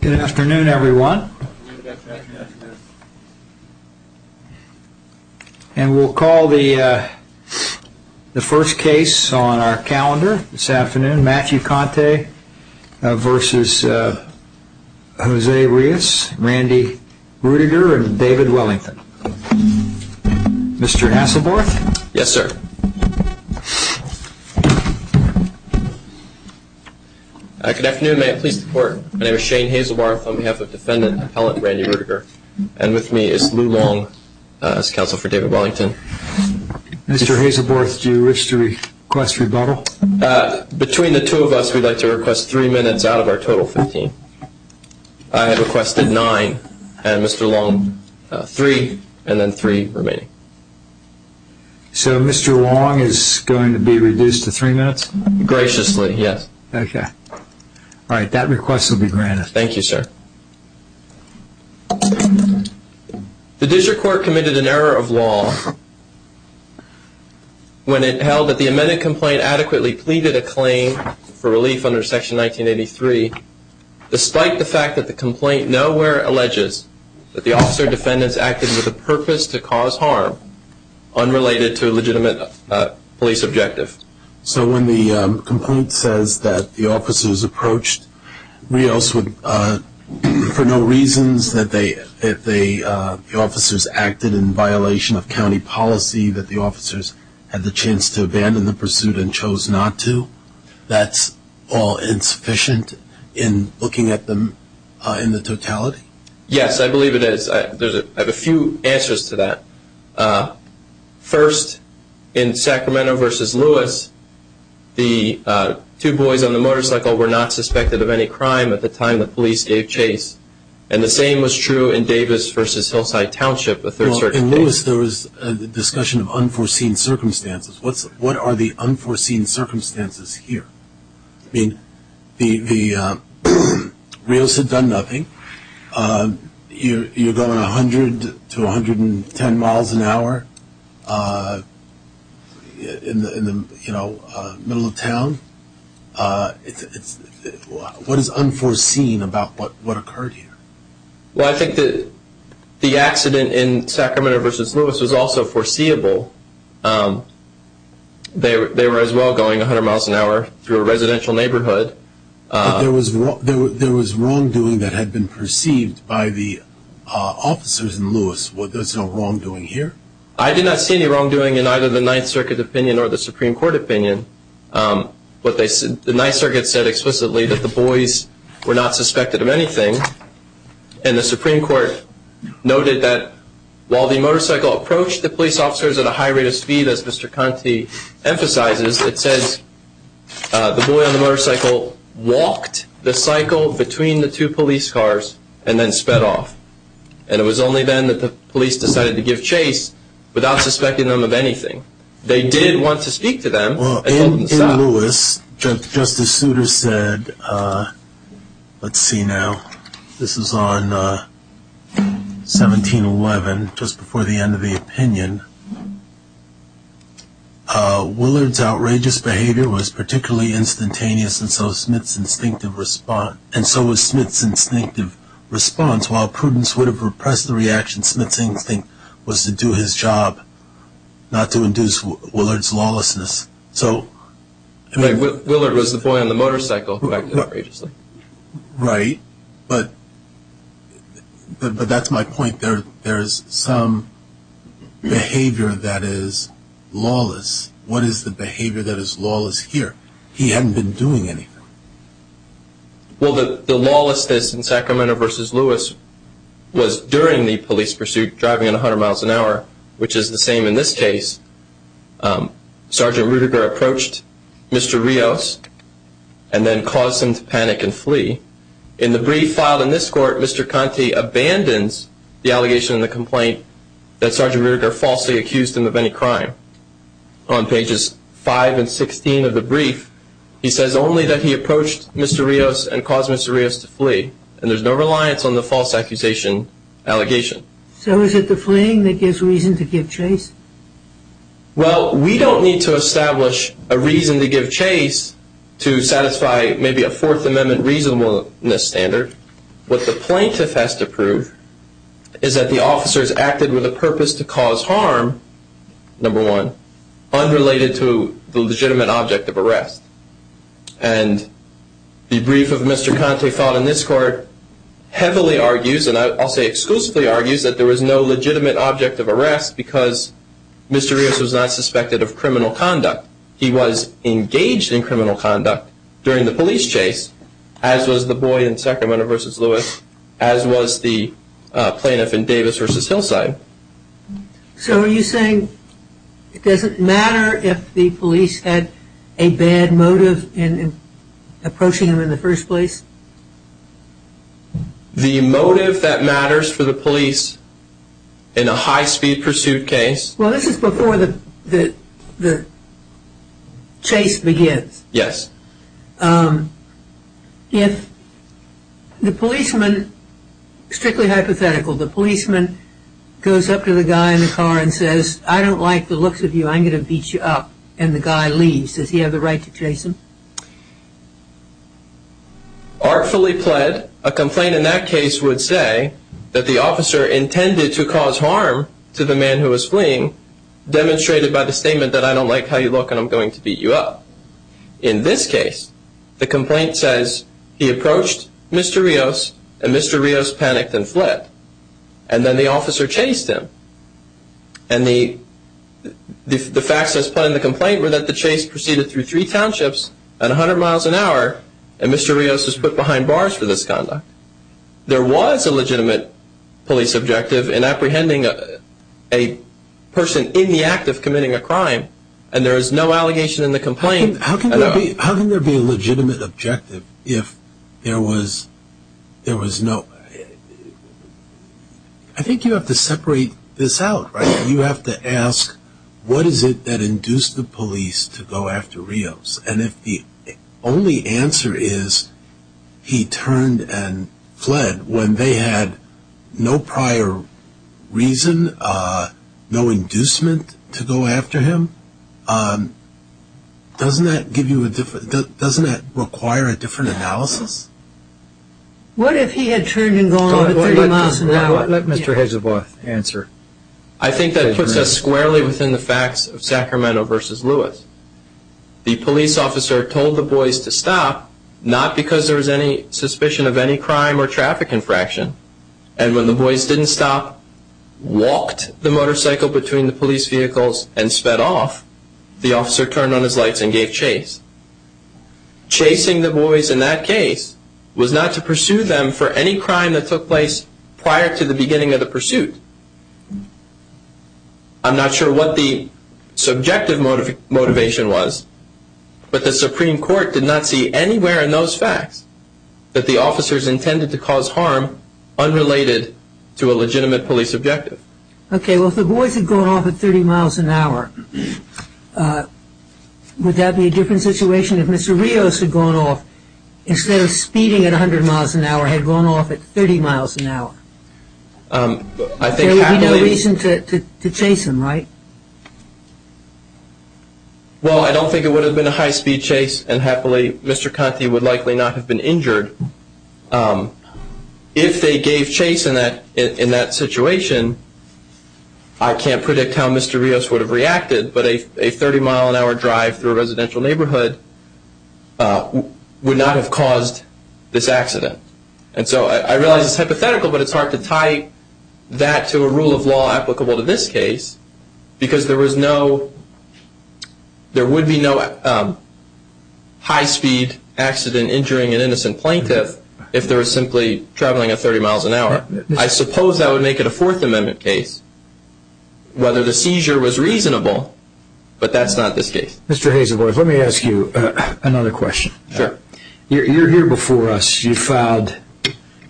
Good afternoon everyone and we'll call the the first case on our calendar this afternoon Matthew Conte versus Jose Rios, Randy Ruediger and David Hazelbarth on behalf of defendant appellant Randy Ruediger and with me is Lou Long as counsel for David Wellington. Mr. Hazelbarth do you wish to request rebuttal? Between the two of us we'd like to request three minutes out of our total 15. I have requested nine and Mr. Long three and then three remaining. So Mr. Long is going to be reduced to three minutes? Graciously yes. Okay all right that request will be granted. Thank you sir. The district court committed an error of law when it held that the amended complaint adequately pleaded a claim for relief under section 1983 despite the fact that the complaint nowhere alleges that the officer defendants acted with a purpose to cause harm unrelated to when the complaint says that the officers approached Rios for no reasons that the officers acted in violation of county policy that the officers had the chance to abandon the pursuit and chose not to. That's all insufficient in looking at them in the totality? Yes I believe it is. I have a few answers to that. First in Sacramento v. Lewis the two boys on the motorcycle were not suspected of any crime at the time the police gave chase and the same was true in Davis v. Hillside Township. In Lewis there was a discussion of unforeseen circumstances. What are the unforeseen circumstances here? I mean the Rios had done nothing. You are going 100-110 miles an hour in the middle of town. What is unforeseen about what occurred here? Well I think the accident in Sacramento v. Lewis was also foreseeable. They were as well going 100 miles an hour through a residential neighborhood. There was wrongdoing that had been perceived by the officers in Lewis. There was no wrongdoing here? I did not see any wrongdoing in either the Ninth Circuit opinion or the Supreme Court opinion. The Ninth Circuit said explicitly that the boys were not suspected of anything and the Supreme Court noted that while the motorcycle approached the police officers at a high rate of speed as Mr. Conte emphasizes it says the boy on the motorcycle walked the cycle between the two police cars and then sped off. And it was only then that the police decided to give chase without suspecting them of anything. They did want to speak to them. In Lewis Justice Souter said, let's see now, this is on 1711 just before the end of the opinion, Willard's outrageous behavior was particularly instantaneous and so was Smith's instinctive response. While prudence would have repressed the reaction, Smith's instinct was to do his job, not to induce Willard's lawlessness. Willard was the boy on the motorcycle who acted outrageously. Right, but that's my point. There is some behavior that is lawless. What is the behavior that is lawless here? He hadn't been doing anything. Well, the lawlessness in Sacramento versus Lewis was during the police pursuit driving at 100 miles an hour, which is the same in this case. Sergeant Ruediger approached Mr. Rios and then caused him to panic and flee. In the brief filed in this court, Mr. Conte abandons the allegation and the complaint that Sergeant Ruediger falsely accused him of any crime. On pages 5 and 16 of the brief, he says only that he approached Mr. Rios and caused Mr. Rios to flee and there's no reliance on the false accusation allegation. So is it the fleeing that gives reason to give chase? Well we don't need to establish a reason to give chase to satisfy maybe a fourth amendment reasonableness standard. What the plaintiff has to prove is that the officers acted with a purpose to cause harm, number one, unrelated to the legitimate object of arrest. And the brief of Mr. Conte filed in this court heavily argues and I'll say exclusively argues that there was no legitimate object of arrest because Mr. Rios was not suspected of criminal conduct. He was engaged in criminal conduct during the police chase as was the boy in Sacramento v. Lewis as was the plaintiff in Davis v. Hillside. So are you saying it doesn't matter if the police had a bad motive in approaching him in the first place? The motive that matters for the police in a high speed pursuit case? Well this is before the chase begins. Yes. If the policeman, strictly hypothetical, the policeman goes up to the guy in the car and says I don't like the looks of you, I'm going to beat you up and the guy leaves. Does he have in that case would say that the officer intended to cause harm to the man who was fleeing demonstrated by the statement that I don't like how you look and I'm going to beat you up. In this case the complaint says he approached Mr. Rios and Mr. Rios panicked and fled. And then the officer chased him. And the facts that's put in the complaint were that the chase proceeded through three townships at 100 miles an hour and Mr. Rios was put behind bars for this conduct. There was a legitimate police objective in apprehending a person in the act of committing a crime and there is no allegation in the complaint. How can there be a legitimate objective if there was no, I think you have to separate this out. You have to ask what is it that and if the only answer is he turned and fled when they had no prior reason, no inducement to go after him, doesn't that give you a different, doesn't that require a different analysis? What if he had turned and gone 30 miles an hour? Let Mr. Hedgeworth answer. I think that the police officer told the boys to stop not because there was any suspicion of any crime or traffic infraction and when the boys didn't stop, walked the motorcycle between the police vehicles and sped off, the officer turned on his lights and gave chase. Chasing the boys in that case was not to pursue them for any crime that took place prior to the beginning of the pursuit. I'm not sure what the subjective motivation was but the Supreme Court did not see anywhere in those facts that the officers intended to cause harm unrelated to a legitimate police objective. Okay, well if the boys had gone off at 30 miles an hour, would that be a different situation if Mr. Rios had gone off instead of speeding at 100 miles an hour or had gone off at 30 miles an hour? There would be no reason to chase him, right? Well I don't think it would have been a high speed chase and happily Mr. Conti would likely not have been injured. If they gave chase in that situation, I can't predict how Mr. Rios would have reacted but a 30 mile an hour drive through a residential neighborhood would not have caused this accident. And so I realize it's hypothetical but it's hard to tie that to a rule of law applicable to this case because there would be no high speed accident injuring an innocent plaintiff if they were simply traveling at 30 miles an hour. I suppose that would make it a Fourth Amendment case whether the seizure was reasonable but that's not this case. Mr. Hazelworth, let me ask you another question. Sure. You're here before us, you filed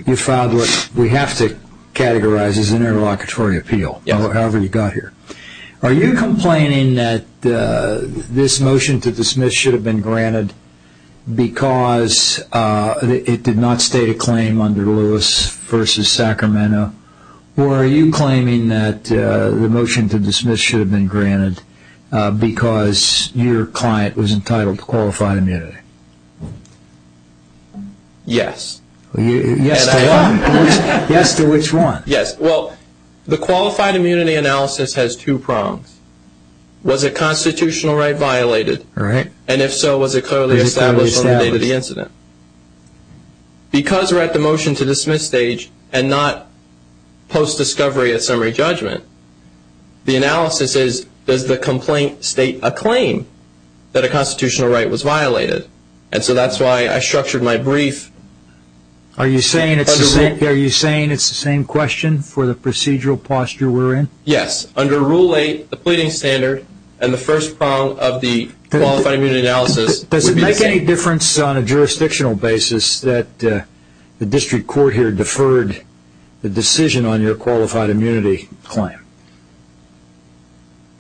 what we have to categorize as an interlocutory appeal, however you got here. Are you complaining that this motion to dismiss should have been granted because it did not state a claim under Lewis v. Sacramento or are you claiming that the motion to dismiss should have been granted because your client was entitled to qualified immunity? Yes. Yes to which one? Yes. Well, the qualified immunity analysis has two prongs. Was it constitutional right violated? And if so, was it clearly established from the date of the incident? Because we're at the motion to dismiss stage and not post-discovery at summary judgment, the analysis is does the complaint state a claim that a constitutional right was violated? And so that's why I structured my brief. Are you saying it's the same question for the procedural posture we're in? Yes. Under Rule 8, the pleading standard and the first prong of the qualified immunity analysis. Does it make any difference on a jurisdictional basis that the district court here deferred the decision on your qualified immunity claim?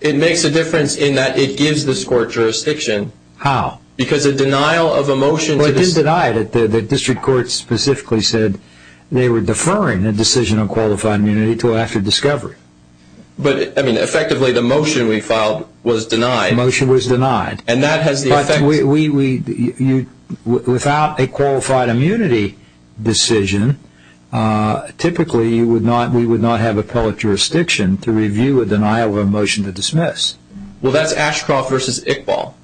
It makes a difference in that it gives this court jurisdiction. How? Because a denial of a motion... Well, it did deny it. The district court specifically said they were deferring a decision on qualified immunity to after discovery. But I mean, effectively the motion we filed was denied. The motion was denied. And that has the effect... Without a qualified immunity decision, typically we would not have appellate jurisdiction to review a denial of a motion to dismiss. Well, that's Ashcroft versus Iqbal.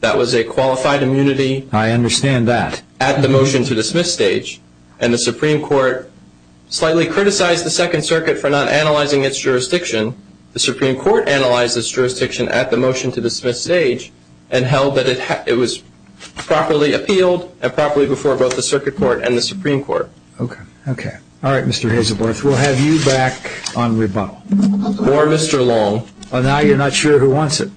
That was a qualified immunity... I understand that. At the motion to dismiss stage. And the Supreme Court slightly criticized the Second Circuit for not analyzing its jurisdiction. The Supreme Court analyzed its jurisdiction at the motion to dismiss stage and held that it was properly appealed and properly before both the Circuit Court and the Supreme Court. Okay. Okay. All right, Mr. Hazelworth, we'll have you back on rebuttal. Or Mr. Long. Oh, now you're not sure who wants it?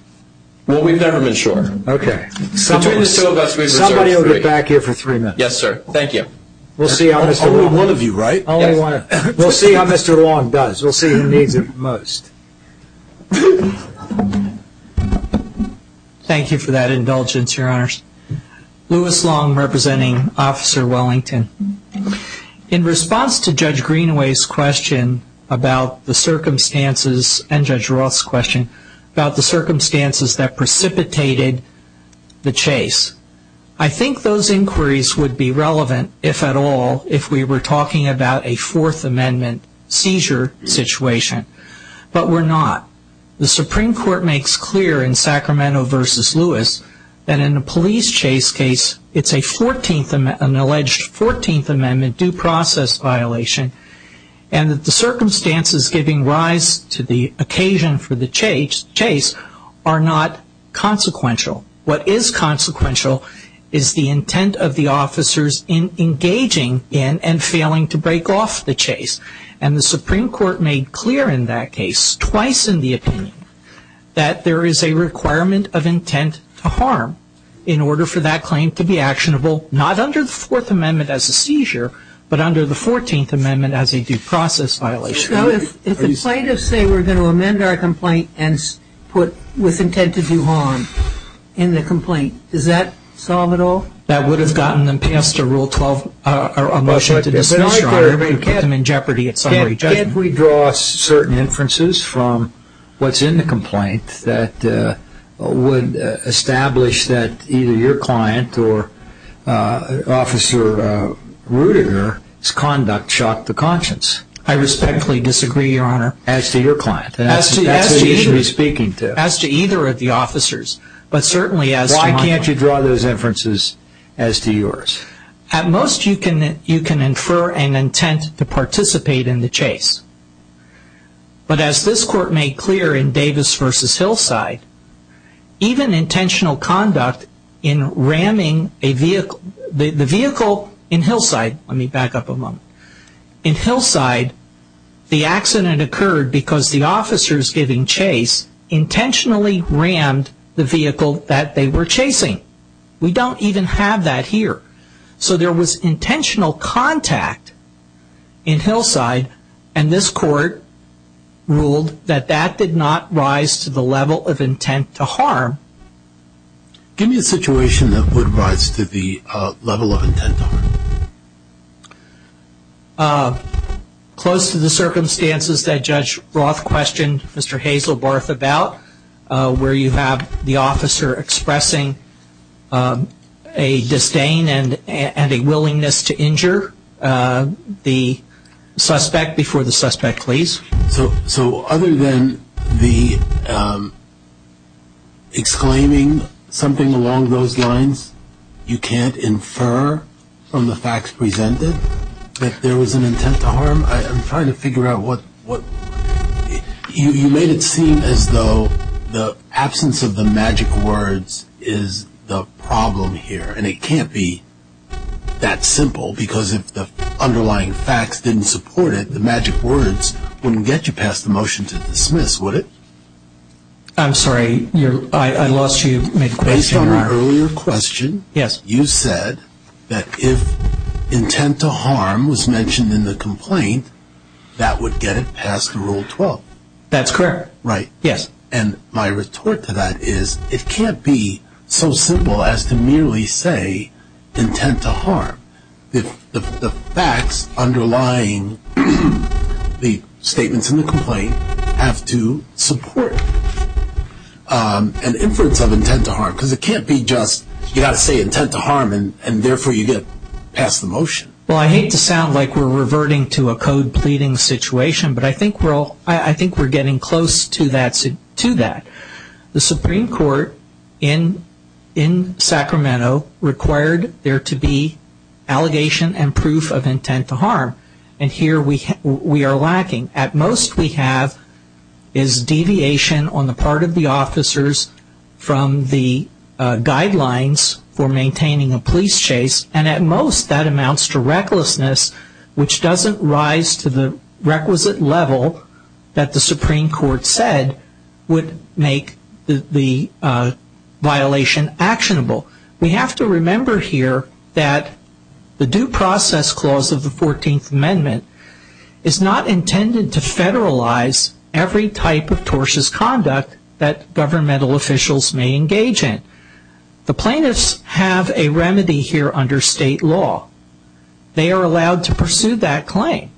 Well, we've never been sure. Okay. Somebody will get back here for three minutes. Yes, sir. Thank you. We'll see how Mr. Long... Only one of you, right? We'll see how Mr. Long does. We'll see who needs it most. Thank you for that indulgence, Your Honors. Lewis Long, representing Officer Wellington. In response to Judge Greenaway's question about the circumstances and Judge Roth's question about the circumstances that precipitated the chase, I think those inquiries would be relevant, if at all, if we were talking about a Fourth Amendment seizure situation. But we're not. The Supreme Court makes clear in Sacramento v. Lewis that in a police chase case, it's an alleged 14th Amendment due process violation, and that the circumstances giving rise to the occasion for the chase are not consequential. What is consequential is the intent of the officers in engaging in and failing to break off the chase. And the Supreme Court made clear in that case, twice in the opinion, that there is a requirement of intent to harm in order for that claim to be actionable, not under the Fourth Amendment as a seizure, but under the 14th Amendment as a due process violation. So if the plaintiffs say we're going to amend our complaint and put with intent to do harm in the complaint, does that solve it all? That would have gotten them past a Rule 12 motion to dismiss, Your Honor, and put them in jeopardy at summary judgment. Can't we draw certain inferences from what's in the complaint that would establish that either your client or Officer Rudiger's conduct shocked the conscience? I respectfully disagree, Your Honor. As do your client. As do either of the officers. Why can't you draw those inferences as to yours? At most, you can infer an intent to participate in the chase. But as this Court made clear in Davis v. Hillside, even intentional conduct in ramming a vehicle, the vehicle in Hillside, let me back up a moment. In Hillside, the accident occurred because the officers giving chase intentionally rammed the vehicle that they were chasing. We don't even have that here. So there was intentional contact in Hillside, and this Court ruled that that did not rise to the level of intent to harm. Give me a situation that would rise to the level of intent to harm. Close to the circumstances that Judge Roth questioned Mr. Hazelbarth about, where you have the officer expressing a disdain and a willingness to injure the suspect before the suspect please. So other than the exclaiming something along those lines, you can't infer from the facts presented that there was an intent to harm? I'm trying to figure out what... You made it seem as though the absence of the magic words is the problem here, and it can't be that simple. Because if the underlying facts didn't support it, the magic words wouldn't get you past the motion to dismiss, would it? I'm sorry, I lost you mid-question. Based on your earlier question, you said that if intent to harm was mentioned in the complaint, that would get it past Rule 12. That's correct. Right. Yes. And my retort to that is it can't be so simple as to merely say intent to harm. The facts underlying the statements in the complaint have to support an inference of intent to harm. Because it can't be just you got to say intent to harm and therefore you get past the motion. Well, I hate to sound like we're reverting to a code pleading situation, but I think we're getting close to that. The Supreme Court in Sacramento required there to be allegation and proof of intent to harm. And here we are lacking. At most, we have is deviation on the part of the officers from the guidelines for maintaining a police chase. And at most, that amounts to recklessness, which doesn't rise to the requisite level that the Supreme Court said would make the violation actionable. We have to remember here that the Due Process Clause of the 14th Amendment is not intended to federalize every type of tortious conduct that governmental officials may engage in. The plaintiffs have a remedy here under state law. They are allowed to pursue that claim.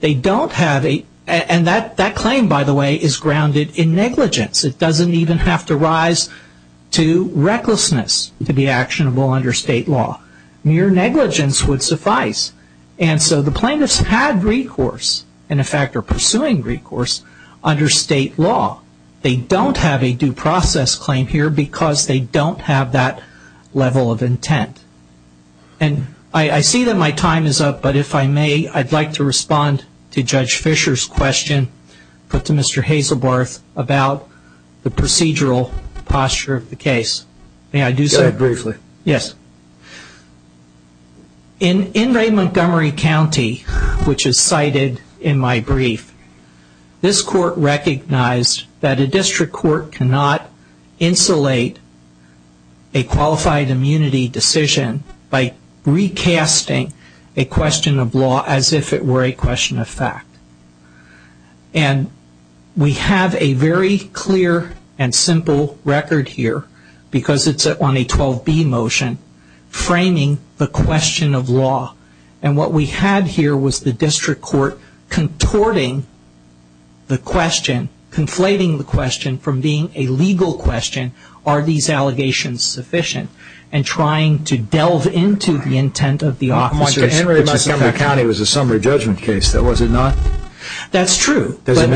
They don't have a, and that claim, by the way, is grounded in negligence. It doesn't even have to rise to recklessness to be actionable under state law. Mere negligence would suffice. And so the plaintiffs had recourse, and in fact are pursuing recourse under state law. They don't have a due process claim here because they don't have that level of intent. And I see that my time is up, but if I may, I'd like to respond to Judge Fisher's question put to Mr. Hazelbarth about the procedural posture of the case. May I do so? Go ahead briefly. Yes. In Ray Montgomery County, which is cited in my brief, this court recognized that a district court cannot insulate a qualified immunity decision by recasting a question of law as if it were a question of fact. And we have a very clear and simple record here because it's on a 12B motion framing the question of law. And what we had here was the district court contorting the question, conflating the question from being a legal question, are these allegations sufficient? And trying to delve into the intent of the officers. Montgomery County was a summary judgment case, was it not? That's true. Does it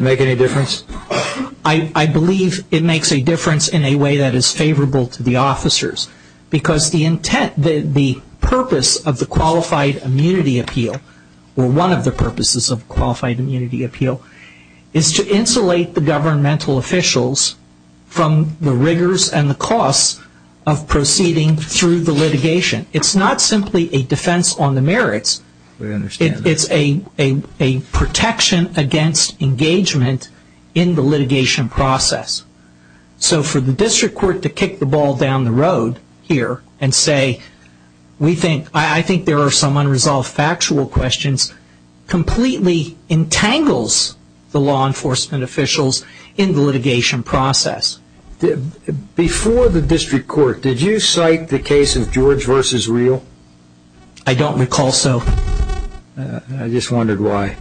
make any difference? I believe it makes a difference in a way that is favorable to the officers. Because the intent, the purpose of the qualified immunity appeal, or one of the purposes of qualified immunity appeal, is to insulate the governmental officials from the rigors and the costs of proceeding through the litigation. It's not simply a defense on the merits. We understand. It's a protection against engagement in the litigation process. So for the district court to kick the ball down the road, and say, I think there are some unresolved factual questions, completely entangles the law enforcement officials in the litigation process. Before the district court, did you cite the case of George v. Real? I don't recall so. I just wondered why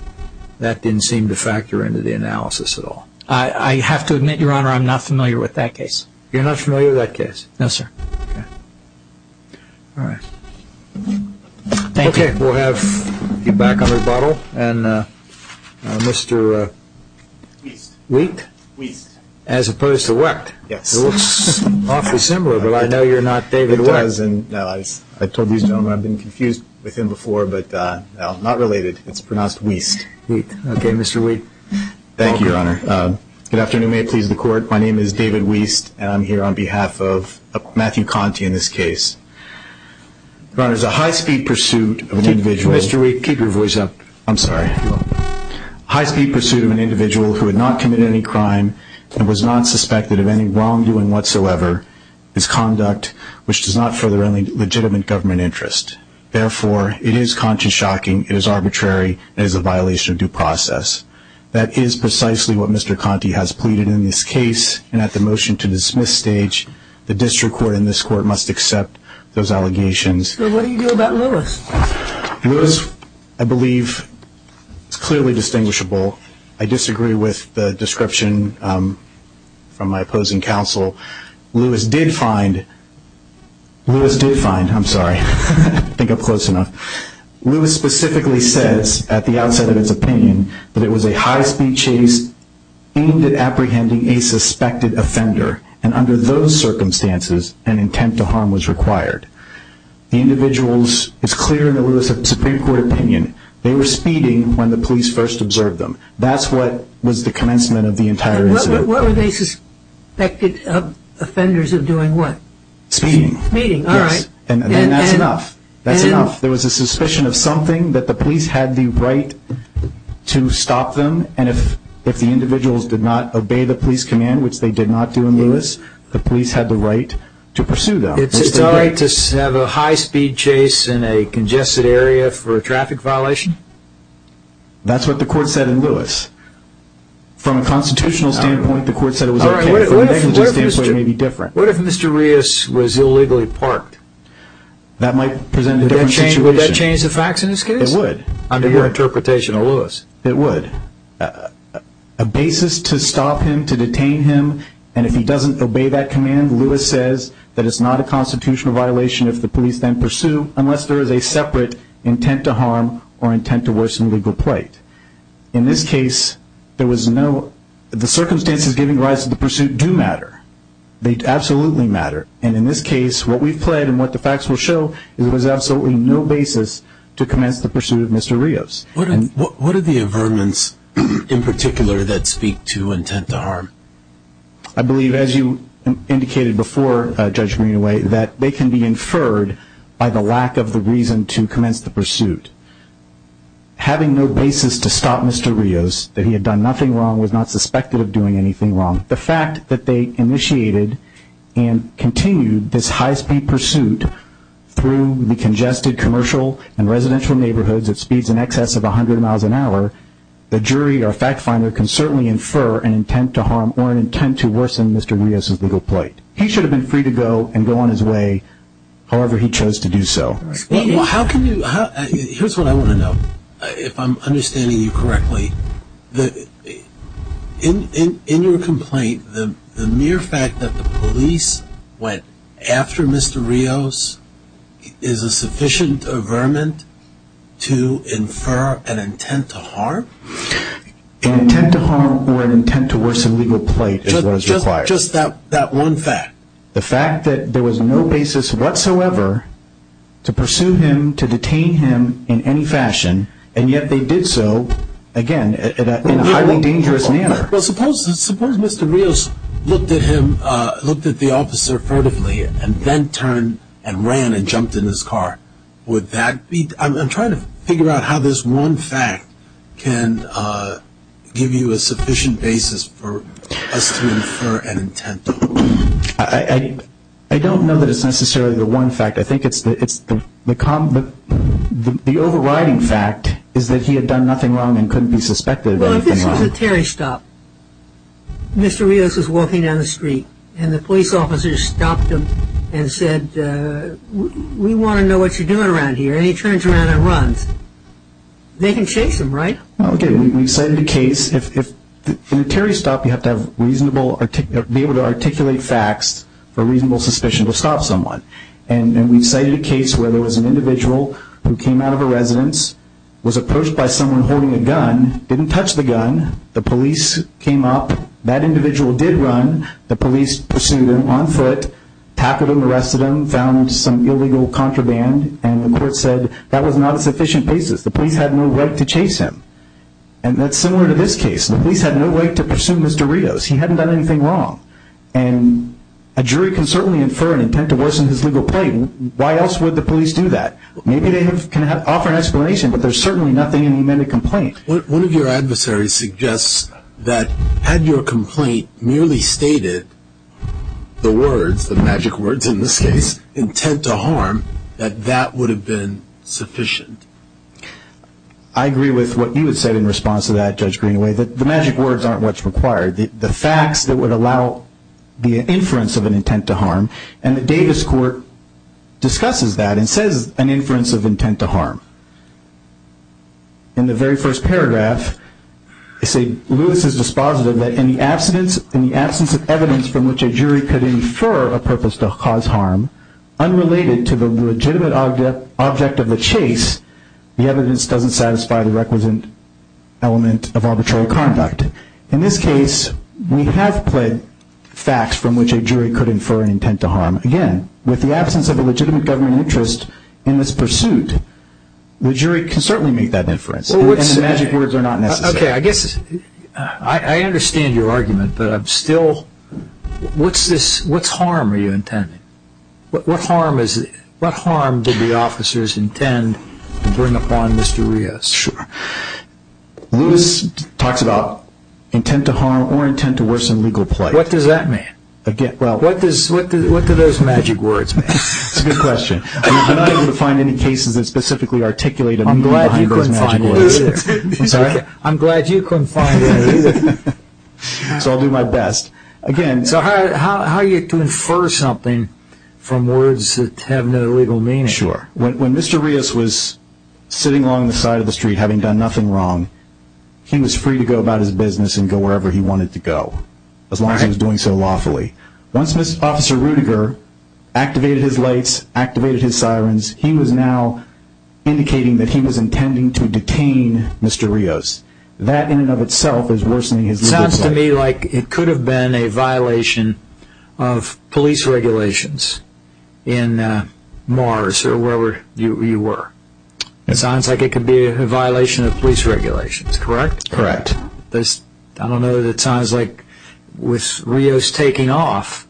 that didn't seem to factor into the analysis at all. I have to admit, Your Honor, I'm not familiar with that case. You're not familiar with that case? No, sir. Okay. All right. Thank you. We'll have you back on rebuttal. And Mr. Wheat? Wheat. As opposed to Wecht. Yes. It looks awfully similar. But I know you're not David Wecht. It does. I told these gentlemen I've been confused with him before. But no, not related. It's pronounced Weast. Wheat. Okay, Mr. Wheat. Thank you, Your Honor. Good afternoon. May it please the court. My name is David Weast. And I'm here on behalf of Matthew Conti in this case. Your Honor, there's a high-speed pursuit of an individual. Mr. Wheat, keep your voice up. I'm sorry. High-speed pursuit of an individual who had not committed any crime and was not suspected of any wrongdoing whatsoever is conduct which does not further legitimate government interest. Therefore, it is consciously shocking. It is arbitrary. It is a violation of due process. That is precisely what Mr. Conti has pleaded in this case and at the motion-to-dismiss stage. The district court and this court must accept those allegations. So what do you do about Lewis? Lewis, I believe, is clearly distinguishable. I disagree with the description from my opposing counsel. Lewis did find... Lewis did find... I'm sorry. I think I'm close enough. Lewis specifically says at the outset of its opinion that it was a high-speed chase aimed at apprehending a suspected offender. And under those circumstances, an intent to harm was required. The individual is clear in the Lewis Supreme Court opinion. They were speeding when the police first observed them. That's what was the commencement of the entire incident. What were they suspected offenders of doing what? Speeding. Speeding. All right. And that's enough. That's enough. There was a suspicion of something that the police had the right to stop them. And if the individuals did not obey the police command, which they did not do in Lewis, the police had the right to pursue them. It's all right to have a high-speed chase in a congested area for a traffic violation? That's what the court said in Lewis. From a constitutional standpoint, the court said it was okay. From a negligence standpoint, it may be different. What if Mr. Rios was illegally parked? That might present a different situation. Would that change the facts in this case? It would. Under your interpretation of Lewis? It would. A basis to stop him, to detain him. And if he doesn't obey that command, Lewis says that it's not a constitutional violation if the police then pursue, unless there is a separate intent to harm or intent to worsen legal plight. In this case, there was no... The circumstances giving rise to the pursuit do matter. They absolutely matter. And in this case, what we've pled and what the facts will show is there was absolutely no basis to commence the pursuit of Mr. Rios. What are the affirmance in particular that speak to intent to harm? I believe, as you indicated before, Judge Greenaway, that they can be inferred by the lack of the reason to commence the pursuit. Having no basis to stop Mr. Rios, that he had done nothing wrong, was not suspected of doing anything wrong. The fact that they initiated and continued this high-speed pursuit through the congested commercial and residential neighborhoods at speeds in excess of 100 miles an hour, the jury or fact finder can certainly infer an intent to harm or an intent to worsen Mr. Rios' legal plight. He should have been free to go and go on his way, however he chose to do so. How can you... Here's what I want to know, if I'm understanding you correctly. In your complaint, the mere fact that the police went after Mr. Rios is a sufficient averment to infer an intent to harm? An intent to harm or an intent to worsen legal plight is what is required. Just that one fact? The fact that there was no basis whatsoever to pursue him, to detain him in any fashion, and yet they did so, again, in a highly dangerous manner. Well, suppose Mr. Rios looked at him, looked at the officer furtively and then turned and ran and jumped in his car. Would that be... I'm trying to figure out how this one fact can give you a sufficient basis for us to infer an intent to harm. I don't know that it's necessarily the one fact. I think it's the... The overriding fact is that he had done nothing wrong and couldn't be suspected of anything wrong. Well, if this was a Terry stop, Mr. Rios was walking down the street and the police officer stopped him and said, we want to know what you're doing around here. And he turns around and runs. They can chase him, right? Okay, we've cited a case. If in a Terry stop, you have to be able to articulate facts for reasonable suspicion to stop someone. And we've cited a case where there was an individual who came out of a residence, was approached by someone holding a gun, didn't touch the gun. The police came up. That individual did run. The police pursued him on foot, tackled him, arrested him, found some illegal contraband. And the court said that was not a sufficient basis. The police had no right to chase him. And that's similar to this case. The police had no way to pursue Mr. Rios. He hadn't done anything wrong. And a jury can certainly infer an intent to worsen his legal plight. Why else would the police do that? Maybe they can offer an explanation, but there's certainly nothing in the amended complaint. One of your adversaries suggests that had your complaint merely stated the words, the magic words in this case, intent to harm, that that would have been sufficient. I agree with what you had said in response to that, Judge Greenaway, that the magic words aren't what's required. The facts that would allow the inference of an intent to harm. And the Davis court discusses that and says an inference of intent to harm. In the very first paragraph, I say Lewis is dispositive that in the absence of evidence from which a jury could infer a purpose to cause harm, unrelated to the legitimate object of the chase, the evidence doesn't satisfy the requisite element of arbitrary conduct. In this case, we have pled facts from which a jury could infer an intent to harm. Again, with the absence of a legitimate government interest in this pursuit, the jury can certainly make that inference. And the magic words are not necessary. I guess I understand your argument, but I'm still, what's this? What's harm are you intending? What harm is it? What harm did the officers intend to bring upon Mr. Rios? Sure. Lewis talks about intent to harm or intent to worsen legal play. What does that mean? Again, well, what does, what do those magic words mean? It's a good question. I'm not going to find any cases that specifically articulate I'm glad you couldn't find it either. I'm sorry? I'm glad you couldn't find it either. So I'll do my best again. So how are you to infer something from words that have no legal meaning? Sure. When Mr. Rios was sitting along the side of the street, having done nothing wrong, he was free to go about his business and go wherever he wanted to go. As long as he was doing so lawfully. Once Mr. Officer Ruediger activated his lights, activated his sirens, he was now indicating that he was intending to detain Mr. Rios. That in and of itself is worsening his legal play. It sounds to me like it could have been a violation of police regulations in Mars or wherever you were. It sounds like it could be a violation of police regulations, correct? Correct. I don't know that it sounds like with Rios taking off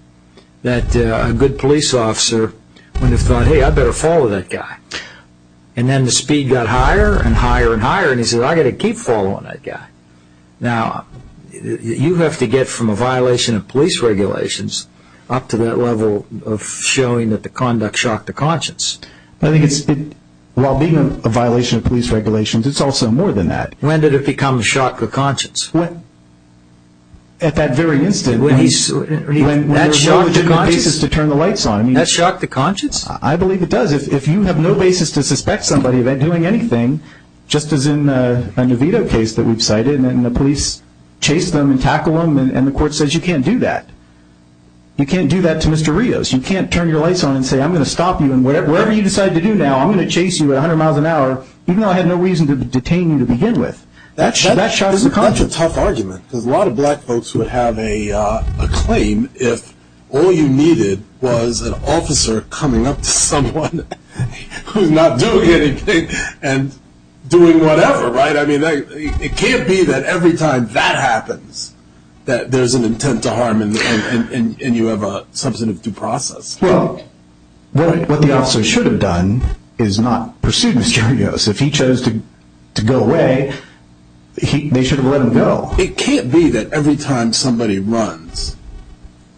that a good police officer would have thought, hey, I better follow that guy. And then the speed got higher and higher and higher and he said, I got to keep following that guy. Now, you have to get from a violation of police regulations up to that level of showing that the conduct shocked the conscience. I think it's, while being a violation of police regulations, it's also more than that. When did it become shocked the conscience? At that very instant. That shocked the conscience? When you have no basis to turn the lights on. That shocked the conscience? I believe it does. If you have no basis to suspect somebody of doing anything, just as in a Vito case that we've cited and the police chased them and tackled them and the court says you can't do that. You can't do that to Mr. Rios. You can't turn your lights on and say, I'm going to stop you and whatever you decide to do now, I'm going to chase you at a hundred miles an hour, even though I had no reason to detain you to begin with. That shocked the conscience. That's a tough argument because a lot of black folks would have a claim if all you needed was an officer coming up to someone who's not doing anything and doing whatever, right? I mean, it can't be that every time that happens, that there's an intent to harm and you have a substantive due process. Well, what the officer should have done is not pursue Mr. Rios. If he chose to go away, they should have let him go. It can't be that every time somebody runs,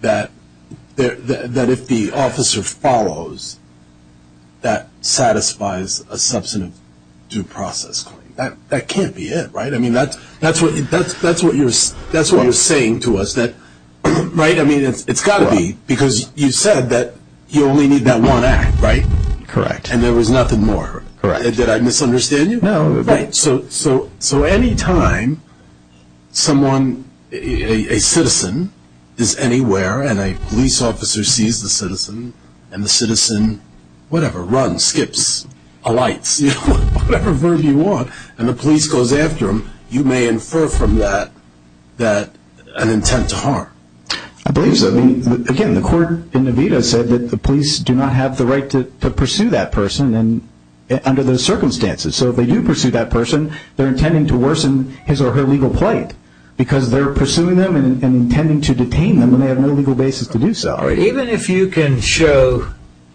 that if the officer follows, that satisfies a substantive due process. That can't be it, right? I mean, that's what you're saying to us. Right? I mean, it's got to be because you said that you only need that one act, right? Correct. And there was nothing more. Correct. Did I misunderstand you? No. Right. So anytime someone, a citizen is anywhere and a police officer sees the citizen and the citizen, whatever, runs, skips, alights, whatever verb you want, and the police goes after him, you may infer from that that an intent to harm. I believe so. I mean, again, the court in Nevada said that the police do not have the right to pursue that person under those circumstances. So if they do pursue that person, they're intending to worsen his or her legal plight because they're pursuing them and intending to detain them when they have no legal basis to do so. Even if you can show,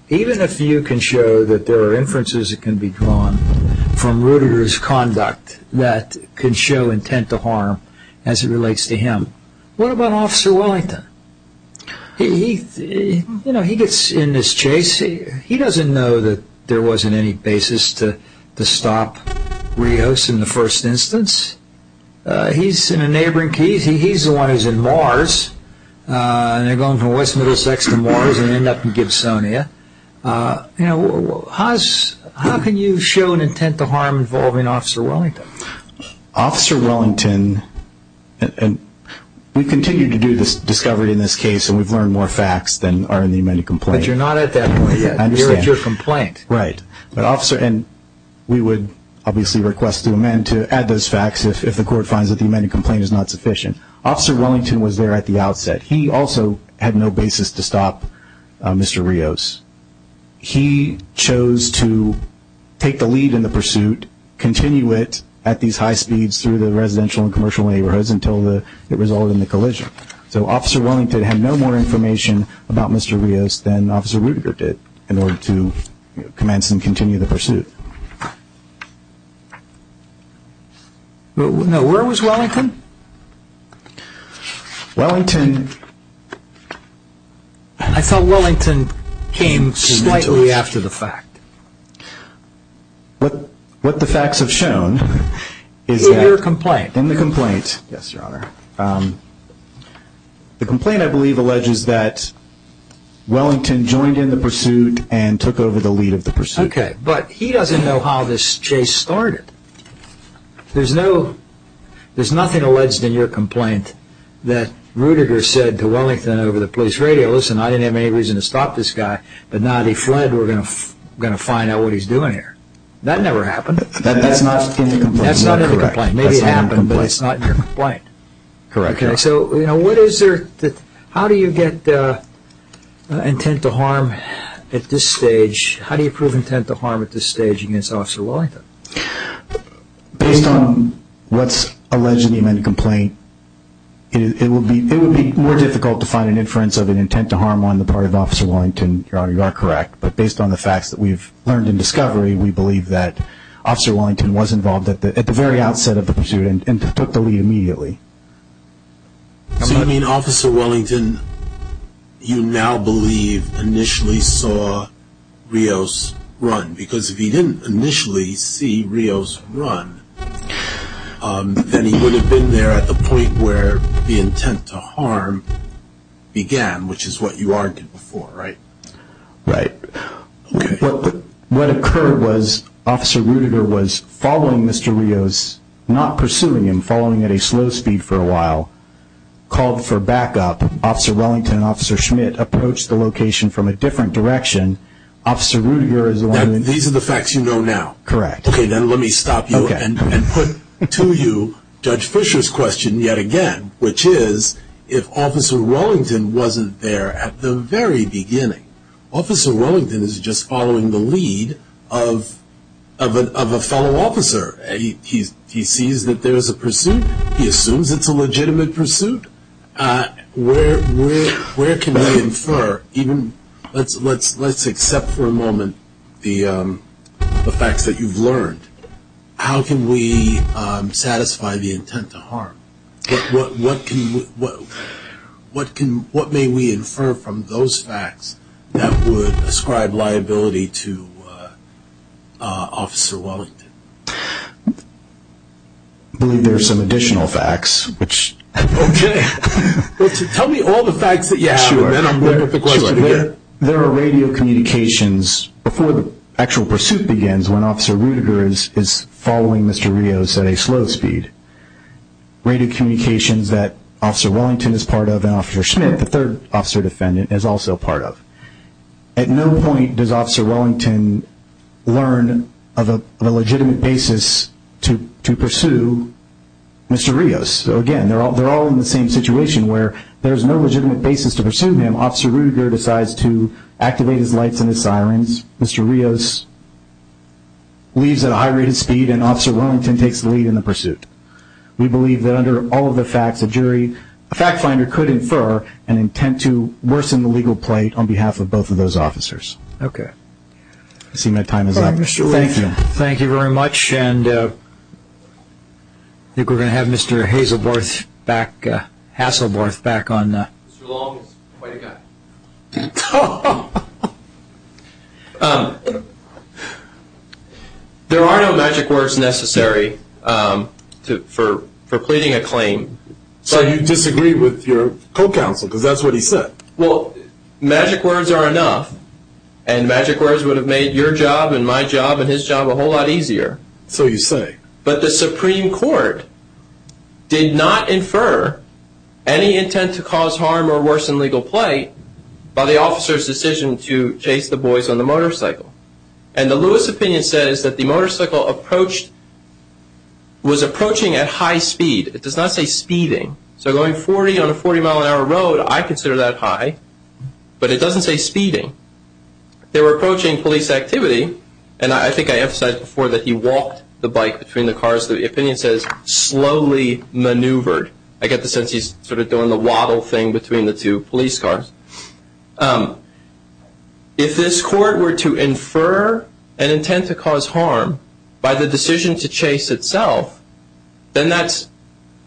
even if you can show that there are inferences that can be drawn from Rudiger's conduct that can show intent to harm as it relates to him, what about Officer Wellington? He gets in this chase. He doesn't know that there wasn't any basis to stop re-hosting the first instance. He's in a neighboring case. He's the one who's in Mars and they're going from West Middlesex to Mars and end up in Gibsonia. How can you show an intent to harm involving Officer Wellington? Officer Wellington, we continue to do this discovery in this case and we've learned more facts than are in the amended complaint. But you're not at that point yet. I understand. You're at your complaint. Right. But Officer, and we would obviously request the amendment to add those facts if the court finds that the amended complaint is not sufficient. Officer Wellington was there at the outset. He also had no basis to stop Mr. Rios. He chose to take the lead in the pursuit, continue it at these high speeds through the residential and commercial neighborhoods until it resulted in the collision. So Officer Wellington had no more information about Mr. Rios than Officer Rudiger did in order to commence and continue the pursuit. Now, where was Wellington? I thought Wellington came slightly after the fact. What the facts have shown is that... In your complaint. In the complaint. Yes, Your Honor. The complaint, I believe, alleges that Wellington joined in the pursuit and took over But he doesn't know how this chase started. There's nothing in the complaint that says that he was involved in the pursuit. There's nothing alleged in your complaint that Rudiger said to Wellington over the police radio, listen, I didn't have any reason to stop this guy, but now that he fled, we're going to find out what he's doing here. That never happened. That's not in the complaint. That's not in the complaint. Maybe it happened, but it's not in your complaint. Correct. Okay, so what is there... How do you get intent to harm at this stage? How do you prove intent to harm at this stage against Officer Wellington? Based on what's alleged in the amended complaint, it would be more difficult to find an inference of an intent to harm on the part of Officer Wellington. Your Honor, you are correct. But based on the facts that we've learned in discovery, we believe that Officer Wellington was involved at the very outset of the pursuit and took the lead immediately. So you mean Officer Wellington, you now believe, initially saw Rios run? Because if he didn't initially see Rios run, then he would have been there at the point where the intent to harm began, which is what you argued before, right? Right. What occurred was Officer Rudiger was following Mr. Rios, not pursuing him, following at a slow speed for a while, called for backup. Officer Wellington and Officer Schmidt approached the location from a different direction. Officer Rudiger is... These are the facts you know now? Correct. Okay, then let me stop you and put to you Judge Fischer's question yet again, which is if Officer Wellington wasn't there at the very beginning, Officer Wellington is just following the lead of a fellow officer. He sees that there is a pursuit. He assumes it's a legitimate pursuit. Where can we infer, even let's accept for a moment the facts that you've learned, how can we satisfy the intent to harm? What may we infer from those facts that would ascribe liability to Officer Wellington? I believe there are some additional facts, which... Okay. Tell me all the facts. Yeah, sure. There are radio communications before the actual pursuit begins when Officer Rudiger is following Mr. Rios at a slow speed. Radio communications that Officer Wellington is part of and Officer Schmidt, the third officer defendant, is also part of. At no point does Officer Wellington learn of a legitimate basis to pursue Mr. Rios. Again, they're all in the same situation where there's no legitimate basis to pursue him. Officer Rudiger decides to activate his lights and his sirens. Mr. Rios leaves at a high rate of speed and Officer Wellington takes the lead in the pursuit. We believe that under all of the facts, a jury, a fact finder could infer an intent to worsen the legal plate on behalf of both of those officers. Okay. I see my time is up. All right, Mr. Lee. Thank you. Thank you very much. And I think we're going to have Mr. Hazelworth back, Hasselworth back on... Mr. Long is quite a guy. Um, there are no magic words necessary for pleading a claim. So you disagree with your co-counsel because that's what he said. Well, magic words are enough and magic words would have made your job and my job and his job a whole lot easier. So you say. But the Supreme Court did not infer any intent to cause harm or worsen legal plate by the officer's decision to chase the boys on the motorcycle. And the Lewis opinion says that the motorcycle approached... was approaching at high speed. It does not say speeding. So going 40 on a 40 mile an hour road, I consider that high. But it doesn't say speeding. They were approaching police activity. And I think I emphasized before that he walked the bike between the cars. The opinion says slowly maneuvered. I get the sense he's sort of doing the waddle thing between the two police cars. If this court were to infer an intent to cause harm by the decision to chase itself, then that's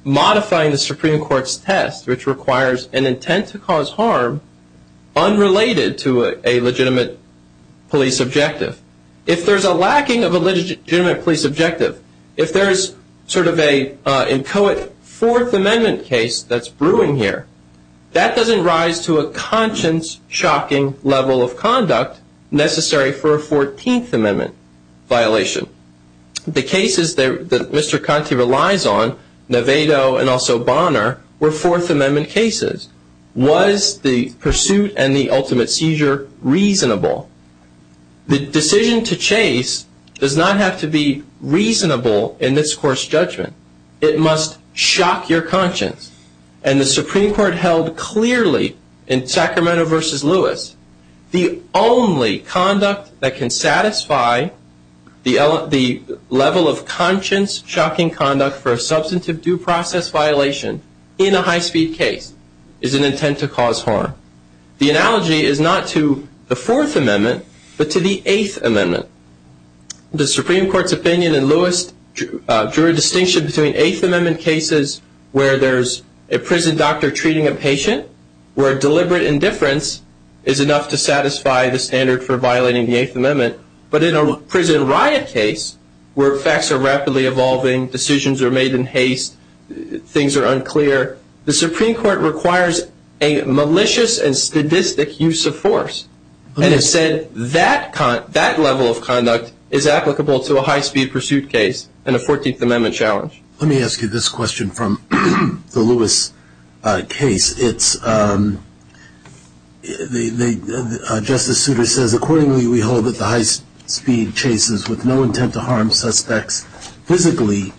modifying the Supreme Court's test, which requires an intent to cause harm unrelated to a legitimate police objective. If there's a lacking of a legitimate police objective, if there is sort of a inchoate Fourth Amendment case that's brewing here, that doesn't rise to a conscience-shocking level of conduct necessary for a 14th Amendment violation. The cases that Mr. Conte relies on, Navedo and also Bonner, were Fourth Amendment cases. Was the pursuit and the ultimate seizure reasonable? The decision to chase does not have to be reasonable in this court's judgment. It must shock your conscience. And the Supreme Court held clearly in Sacramento versus Lewis, the only conduct that can satisfy the level of conscience-shocking conduct for a substantive due process violation in a high-speed case is an intent to cause harm. The analogy is not to the Fourth Amendment, but to the Eighth Amendment. The Supreme Court's opinion in Lewis drew a distinction between Eighth Amendment cases where there's a prison doctor treating a patient, where deliberate indifference is enough to satisfy the standard for violating the Eighth Amendment. But in a prison riot case where facts are rapidly evolving, decisions are made in haste, things are unclear, the Supreme Court requires a malicious and statistic use of force. And it said that level of conduct is applicable to a high-speed pursuit case and a 14th Amendment challenge. Let me ask you this question from the Lewis case. It's... Justice Souter says, accordingly, we hold that the high-speed chases with no intent to harm suspects physically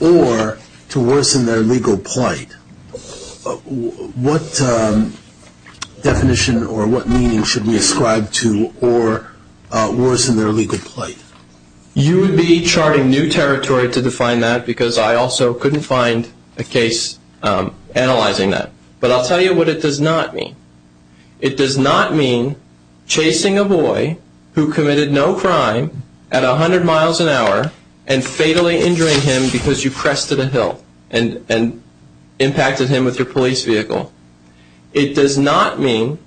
or to worsen their legal plight. What definition or what meaning should we ascribe to or worsen their legal plight? You would be charting new territory to define that because I also couldn't find a case analyzing that. But I'll tell you what it does not mean. It does not mean chasing a boy who committed no crime at 100 miles an hour and fatally injuring him because you pressed to the hill and impacted him with your police vehicle. It does not mean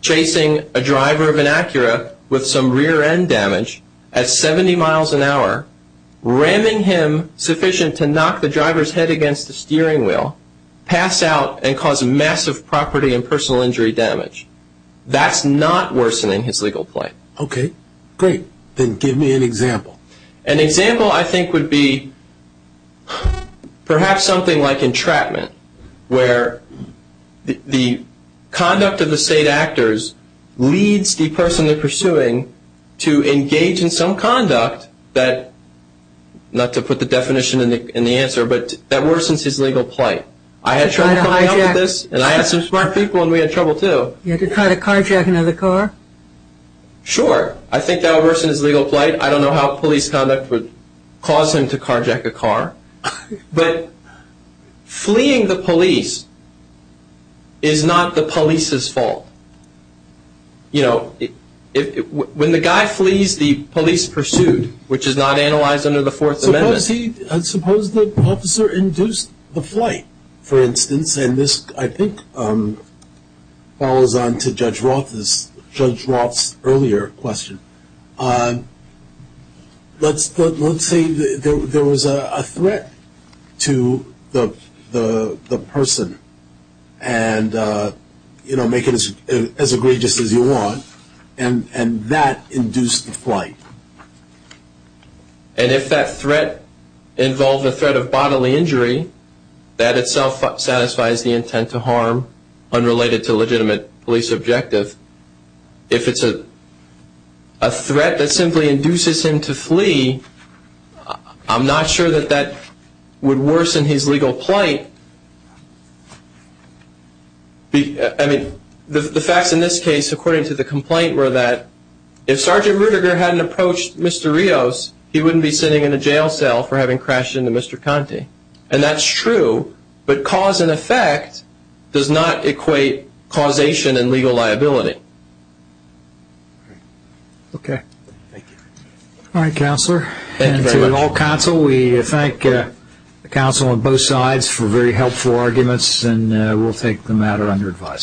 chasing a driver of an Acura with some rear-end damage at 70 miles an hour, ramming him sufficient to knock the driver's head against the steering wheel, pass out, and cause massive property and personal injury damage. That's not worsening his legal plight. Okay, great. Then give me an example. An example, I think, would be perhaps something like entrapment where the conduct of the state actors leads the person they're pursuing to engage in some conduct that, not to put the definition in the answer, but that worsens his legal plight. I had trouble coming up with this and I had some smart people and we had trouble too. You had to try to carjack another car? Sure. I think that worsens legal plight. I don't know how police conduct would cause him to carjack a car. But fleeing the police is not the police's fault. You know, when the guy flees the police pursued, which is not analyzed under the Fourth Amendment. Suppose the officer induced the flight. For instance, and this, I think, follows on to Judge Roth's earlier question. Let's say there was a threat to the person and make it as egregious as you want and that induced the flight. And if that threat involved a threat of bodily injury, that itself satisfies the intent to harm unrelated to legitimate police objective. If it's a threat that simply induces him to flee, I'm not sure that that would worsen his legal plight. I mean, the facts in this case, according to the complaint, were that if Sergeant Ruediger hadn't approached Mr. Rios, he wouldn't be sitting in a jail cell for having crashed into Mr. Conte. And that's true, but cause and effect does not equate causation and legal liability. Okay. All right, Counselor. And to all counsel, we thank the counsel on both sides for very helpful arguments and we'll take the matter under advisement.